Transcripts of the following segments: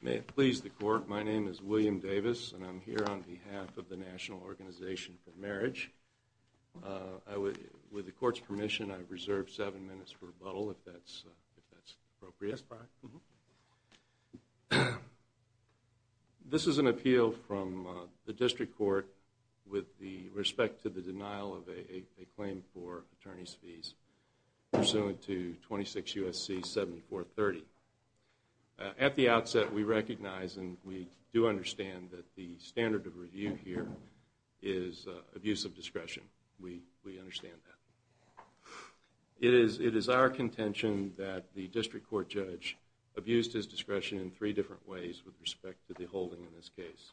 May it please the Court, my name is William Davis, and I'm here on behalf of the National Organization for Marriage. With the Court's permission, I've reserved seven minutes for rebuttal, if that's appropriate. This is an appeal from the District Court with respect to the denial of a claim for attorney's fees pursuant to 26 U.S.C. 7430. At the outset, we recognize and we do understand that the standard of review here is abuse of discretion. We understand that. It is our contention that the District Court Judge abused his discretion in three different ways with respect to the holding in this case.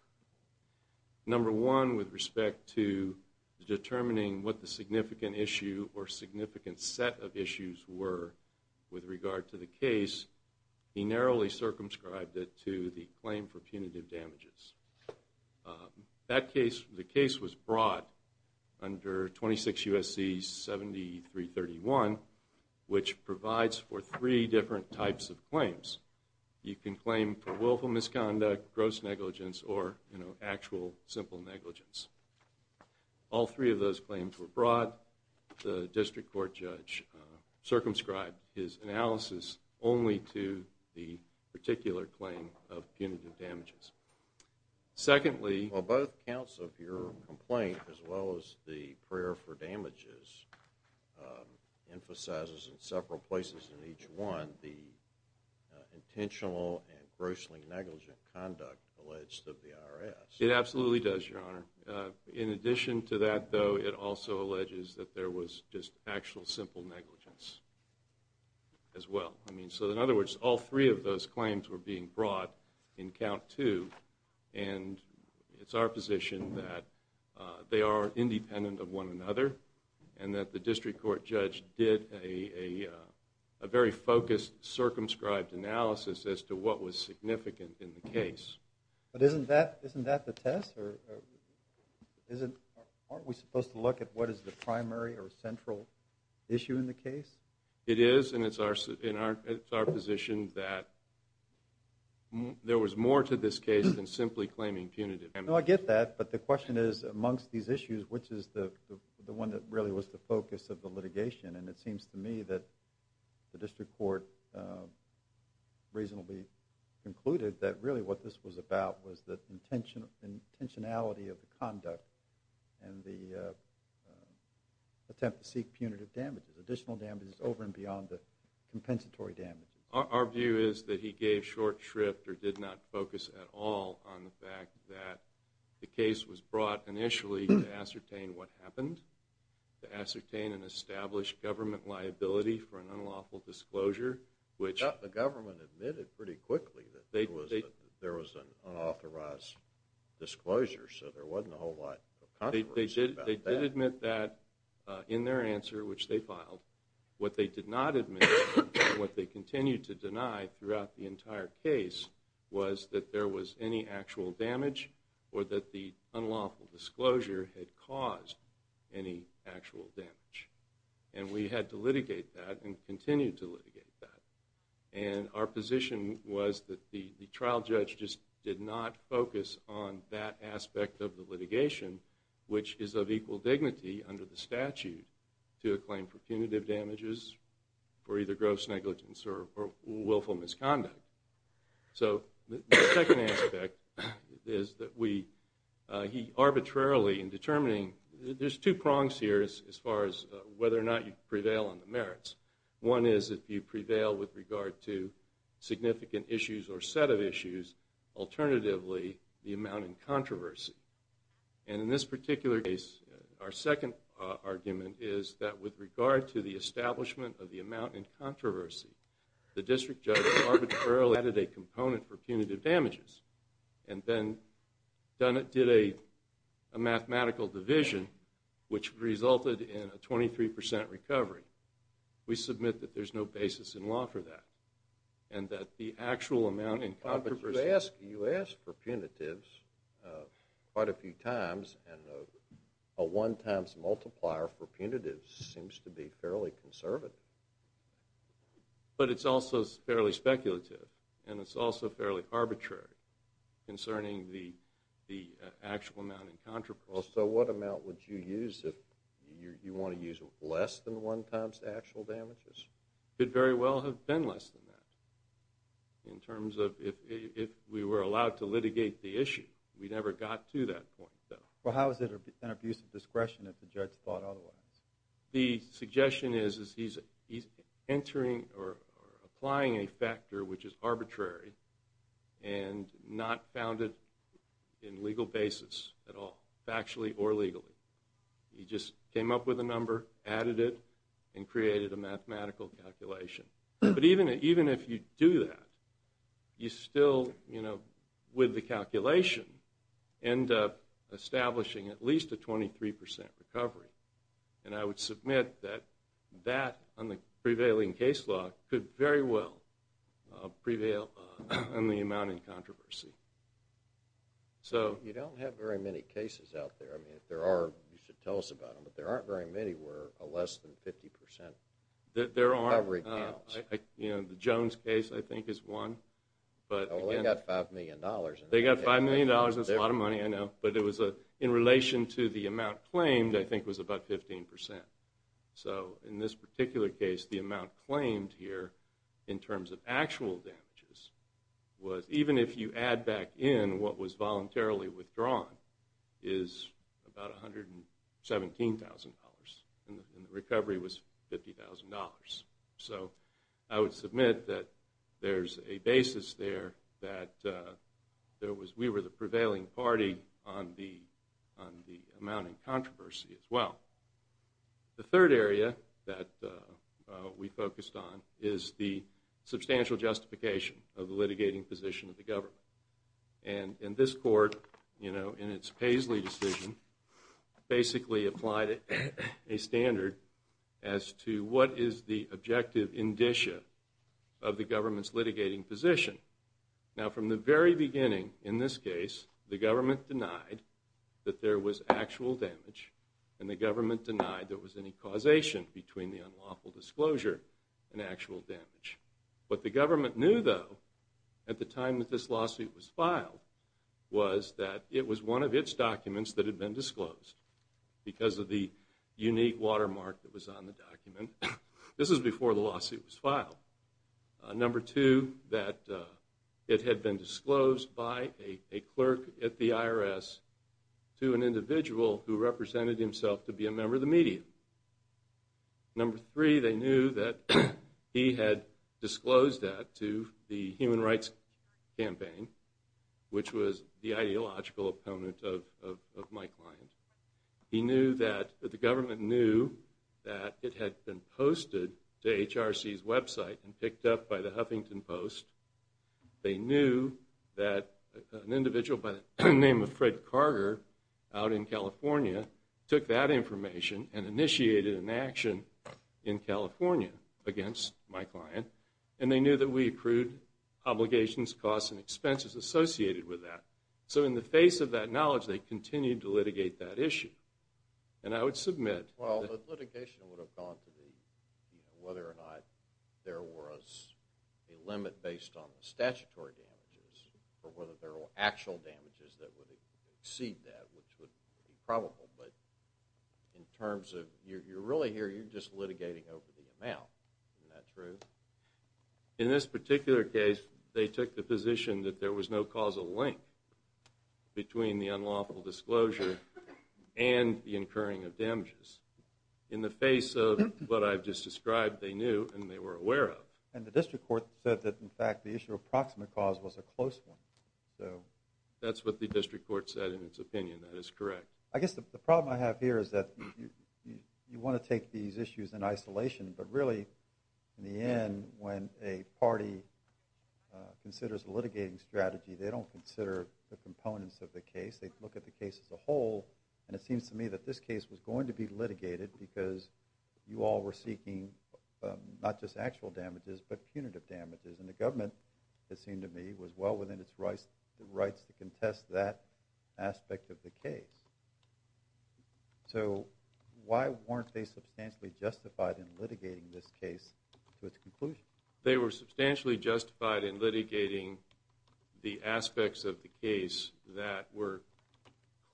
Number one, with respect to determining what the significant issue or significant set of issues were with regard to the case, he narrowly circumscribed it to the claim for punitive damages. The case was brought under 26 U.S.C. 7331, which provides for three different types of claims. You can claim for willful misconduct, gross negligence, or actual simple negligence. All three of those claims were brought. The District Court Judge circumscribed his analysis only to the particular claim of punitive damages. Secondly, while both counts of your complaint, as well as the prayer for damages, emphasizes in several places in each one the intentional and grossly negligent conduct alleged of the IRS. It absolutely does, Your Honor. In addition to that, though, it also alleges that there was just actual simple negligence as well. I mean, so in other words, all three of those claims were being brought in count two. And it's our position that they are independent of one another and that the District Court Judge did a very focused circumscribed analysis as to what was significant in the case. But isn't that the test? Aren't we supposed to look at what is the primary or central issue in the case? It is, and it's our position that there was more to this case than simply claiming punitive damages. No, I get that, but the question is, amongst these issues, which is the one that really was the focus of the litigation? And it seems to me that the District Court reasonably concluded that really what this was about was the intentionality of the conduct and the attempt to seek punitive damages, additional damages over and beyond the compensatory damages. Our view is that he gave short shrift or did not focus at all on the fact that the case was brought initially to ascertain what happened, to ascertain an established government liability for an unlawful disclosure. The government admitted pretty quickly that there was an unauthorized disclosure, so there wasn't a whole lot of controversy about that. They did admit that in their answer, which they filed. What they did not admit and what they continued to deny throughout the entire case was that there was any actual damage or that the unlawful disclosure had caused any actual damage. And we had to litigate that and continue to litigate that. And our position was that the trial judge just did not focus on that aspect of the litigation, which is of equal dignity under the statute to a claim for punitive damages for either gross negligence or willful misconduct. So the second aspect is that we, he arbitrarily in determining, there's two prongs here as far as whether or not you prevail on the merits. One is if you prevail with regard to significant issues or set of issues, alternatively the amount in controversy. And in this particular case, our second argument is that with regard to the establishment of the amount in controversy, the district judge arbitrarily added a component for punitive damages and then did a mathematical division which resulted in a 23% recovery. We submit that there's no basis in law for that and that the actual amount in controversy. But you ask for punitives quite a few times and a one times multiplier for punitives seems to be fairly conservative. But it's also fairly speculative and it's also fairly arbitrary concerning the actual amount in controversy. Well, so what amount would you use if you want to use less than one times actual damages? Could very well have been less than that in terms of if we were allowed to litigate the issue. We never got to that point, though. Well, how is it an abuse of discretion if the judge thought otherwise? The suggestion is he's entering or applying a factor which is arbitrary and not founded in legal basis at all, factually or legally. He just came up with a number, added it, and created a mathematical calculation. But even if you do that, you still, with the calculation, end up establishing at least a 23% recovery. And I would submit that that, on the prevailing case law, could very well prevail on the amount in controversy. You don't have very many cases out there. I mean, if there are, you should tell us about them. But there aren't very many where a less than 50% recovery counts. There aren't. The Jones case, I think, is one. Well, they got $5 million. They got $5 million. That's a lot of money, I know. But in relation to the amount claimed, I think it was about 15%. So in this particular case, the amount claimed here, in terms of actual damages, was, even if you add back in what was voluntarily withdrawn, is about $117,000. And the recovery was $50,000. So I would submit that there's a basis there that we were the prevailing party on the amount in controversy as well. The third area that we focused on is the substantial justification of the litigating position of the government. And this court, in its Paisley decision, basically applied a standard as to what is the objective indicia of the government's litigating position. Now, from the very beginning, in this case, the government denied that there was actual damage, and the government denied there was any causation between the unlawful disclosure and actual damage. What the government knew, though, at the time that this lawsuit was filed, was that it was one of its documents that had been disclosed, because of the unique watermark that was on the document. This was before the lawsuit was filed. Number two, that it had been disclosed by a clerk at the IRS to an individual who represented himself to be a member of the media. Number three, they knew that he had disclosed that to the Human Rights Campaign, which was the ideological opponent of my client. He knew that the government knew that it had been posted to HRC's website and picked up by the Huffington Post. They knew that an individual by the name of Fred Carter, out in California, took that information and initiated an action in California against my client, and they knew that we accrued obligations, costs, and expenses associated with that. So in the face of that knowledge, they continued to litigate that issue. And I would submit... Well, the litigation would have gone to whether or not there was a limit based on statutory damages, or whether there were actual damages that would exceed that, which would be probable. But in terms of, you're really here, you're just litigating over the amount. Isn't that true? In this particular case, they took the position that there was no causal link between the unlawful disclosure and the incurring of damages. In the face of what I've just described, they knew and they were aware of. And the district court said that, in fact, the issue of proximate cause was a close one. That's what the district court said in its opinion. That is correct. I guess the problem I have here is that you want to take these issues in isolation, but really, in the end, when a party considers a litigating strategy, they don't consider the components of the case. They look at the case as a whole, and it seems to me that this case was going to be litigated because you all were seeking not just actual damages, but punitive damages. And the government, it seemed to me, was well within its rights to contest that aspect of the case. So why weren't they substantially justified in litigating this case to its conclusion? They were substantially justified in litigating the aspects of the case that were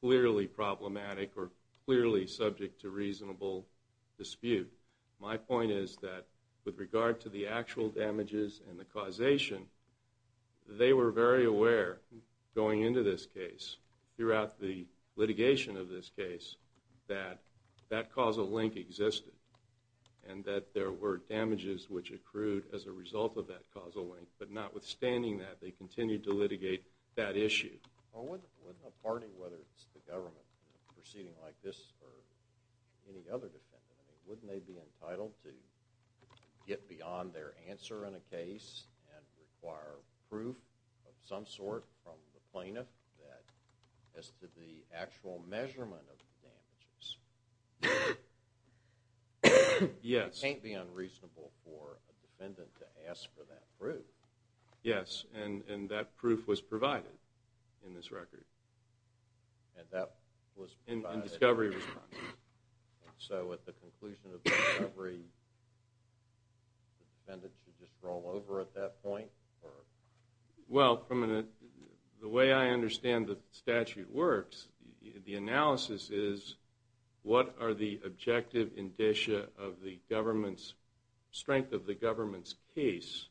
clearly problematic or clearly subject to reasonable dispute. My point is that, with regard to the actual damages and the causation, they were very aware, going into this case, throughout the litigation of this case, that that causal link existed and that there were damages which accrued as a result of that causal link. But notwithstanding that, they continued to litigate that issue. Well, wouldn't a party, whether it's the government proceeding like this or any other defendant, wouldn't they be entitled to get beyond their answer in a case and require proof of some sort from the plaintiff as to the actual measurement of the damages? Yes. It can't be unreasonable for a defendant to ask for that proof. Yes, and that proof was provided in this record. And that was provided. In discovery response. So at the conclusion of the discovery, the defendant should just roll over at that point? Well, from the way I understand the statute works, the analysis is what are the objective indicia of the government's strength of the government's case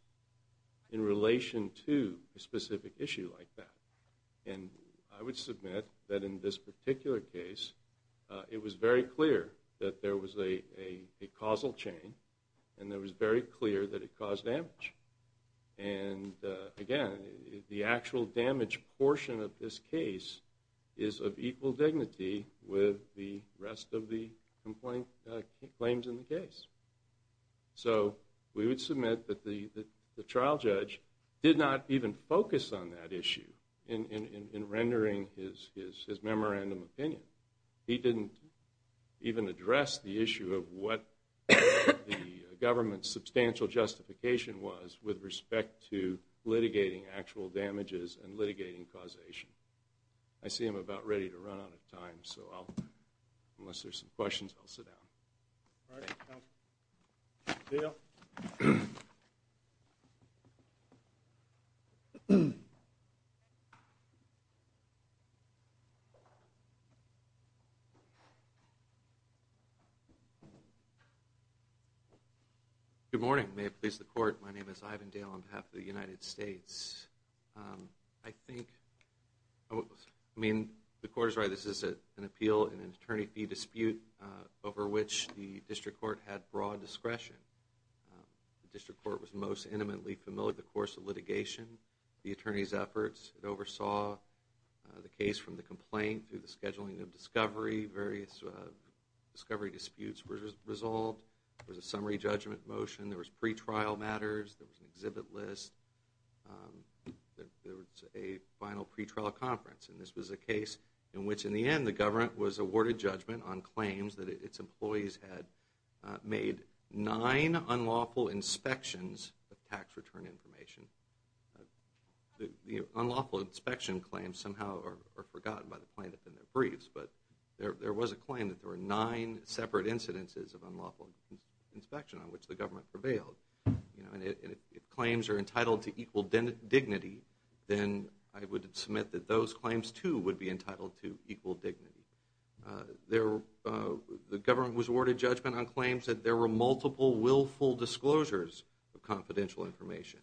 in relation to a specific issue like that. And I would submit that in this particular case, it was very clear that there was a causal chain and it was very clear that it caused damage. And again, the actual damage portion of this case is of equal dignity with the rest of the claims in the case. So we would submit that the trial judge did not even focus on that issue in rendering his memorandum opinion. He didn't even address the issue of what the government's substantial justification was with respect to litigating actual damages and litigating causation. I see I'm about ready to run out of time, so unless there's some questions, I'll sit down. All right. Dale. Good morning. May it please the court. My name is Ivan Dale on behalf of the United States. I think, I mean, the court is right. This is an appeal in an attorney fee dispute over which the district court had broad discretion. The district court was most intimately familiar with the course of litigation, the attorney's efforts. It oversaw the case from the complaint through the scheduling of discovery. Various discovery disputes were resolved. There was a summary judgment motion. There was pretrial matters. There was an exhibit list. There was a final pretrial conference. And this was a case in which, in the end, the government was awarded judgment on claims that its employees had made nine unlawful inspections of tax return information. The unlawful inspection claims somehow are forgotten by the plaintiff in their briefs, but there was a claim that there were nine separate incidences of unlawful inspection on which the government prevailed. And if claims are entitled to equal dignity, then I would submit that those claims, too, would be entitled to equal dignity. The government was awarded judgment on claims that there were multiple willful disclosures of confidential information.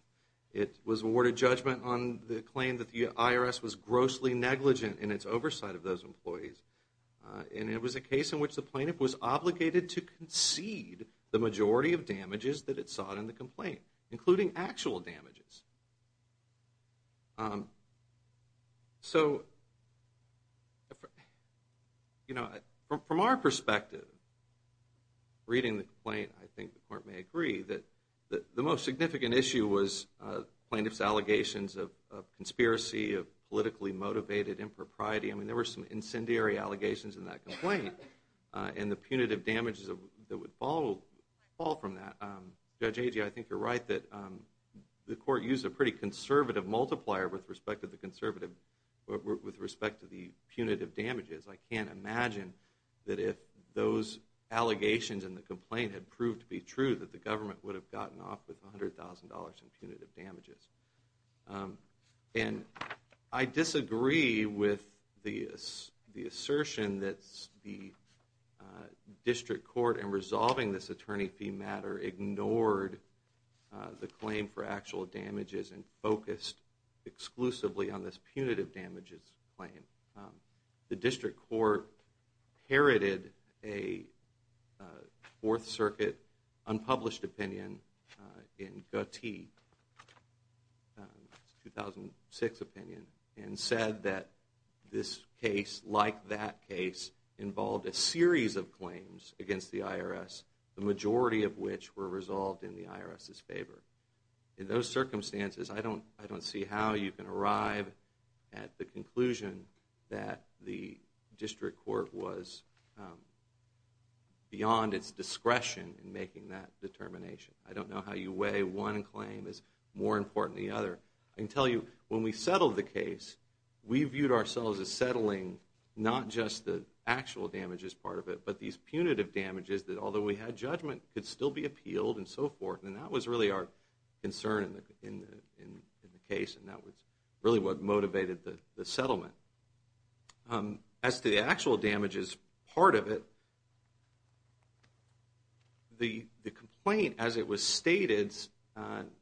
It was awarded judgment on the claim that the IRS was grossly negligent in its oversight of those employees. And it was a case in which the plaintiff was obligated to concede the majority of damages that it sought in the complaint, including actual damages. So, you know, from our perspective, reading the complaint, I think the court may agree that the most significant issue was plaintiff's allegations of conspiracy, of politically motivated impropriety. I mean, there were some incendiary allegations in that complaint and the punitive damages that would fall from that. Judge Agee, I think you're right that the court used a pretty conservative multiplier with respect to the punitive damages. I can't imagine that if those allegations in the complaint had proved to be true that the government would have gotten off with $100,000 in punitive damages. And I disagree with the assertion that the district court in resolving this attorney fee matter ignored the claim for actual damages and focused exclusively on this punitive damages claim. The district court parroted a Fourth Circuit unpublished opinion in Goethe, 2006 opinion, and said that this case, like that case, involved a series of claims against the IRS, the majority of which were resolved in the IRS's favor. In those circumstances, I don't see how you can arrive at the conclusion that the district court was beyond its discretion in making that determination. I don't know how you weigh one claim is more important than the other. I can tell you when we settled the case, we viewed ourselves as settling not just the actual damages part of it, but these punitive damages that although we had judgment could still be appealed and so forth. And that was really our concern in the case, and that was really what motivated the settlement. As to the actual damages part of it, the complaint as it was stated,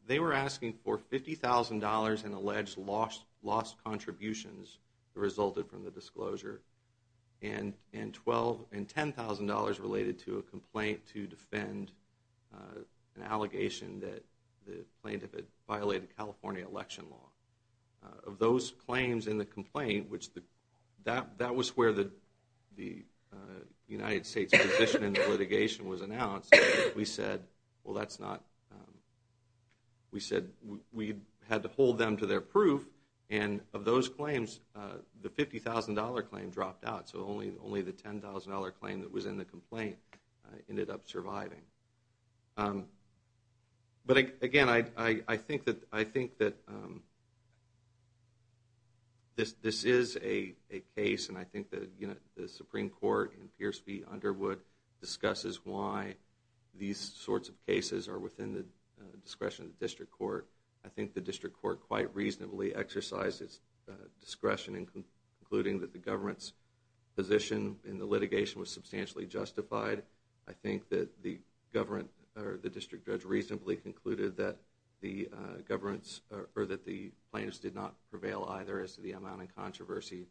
they were asking for $50,000 in alleged lost contributions that resulted from the disclosure, and $10,000 related to a complaint to defend an allegation that the plaintiff had violated California election law. Of those claims in the complaint, that was where the United States position in the litigation was announced. We said we had to hold them to their proof, and of those claims, the $50,000 claim dropped out, so only the $10,000 claim that was in the complaint ended up surviving. But again, I think that this is a case, and I think that the Supreme Court in Pierce v. Underwood discusses why these sorts of cases are within the discretion of the district court. I think the district court quite reasonably exercised its discretion in concluding that the government's position in the litigation was substantially justified. I think that the district judge reasonably concluded that the plaintiffs did not prevail either as to the amount of controversy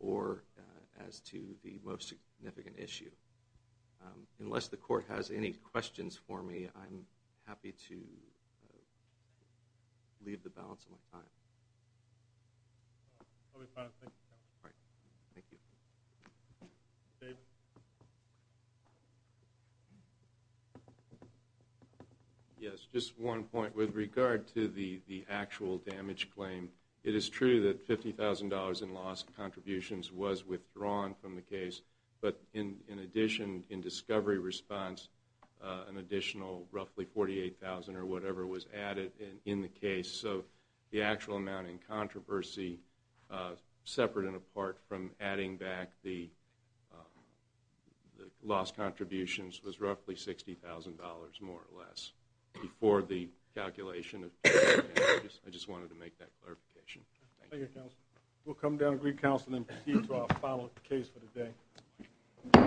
or as to the most significant issue. Unless the court has any questions for me, I'm happy to leave the balance of my time. Yes, just one point with regard to the actual damage claim. It is true that $50,000 in lost contributions was withdrawn from the case, but in addition, in discovery response, an additional roughly $48,000 or whatever was added in the case. So the actual amount in controversy, separate and apart from adding back the lost contributions, was roughly $60,000 more or less before the calculation of $50,000. I just wanted to make that clarification. Thank you, counsel. We'll come down and recounsel and then proceed to our final case for the day.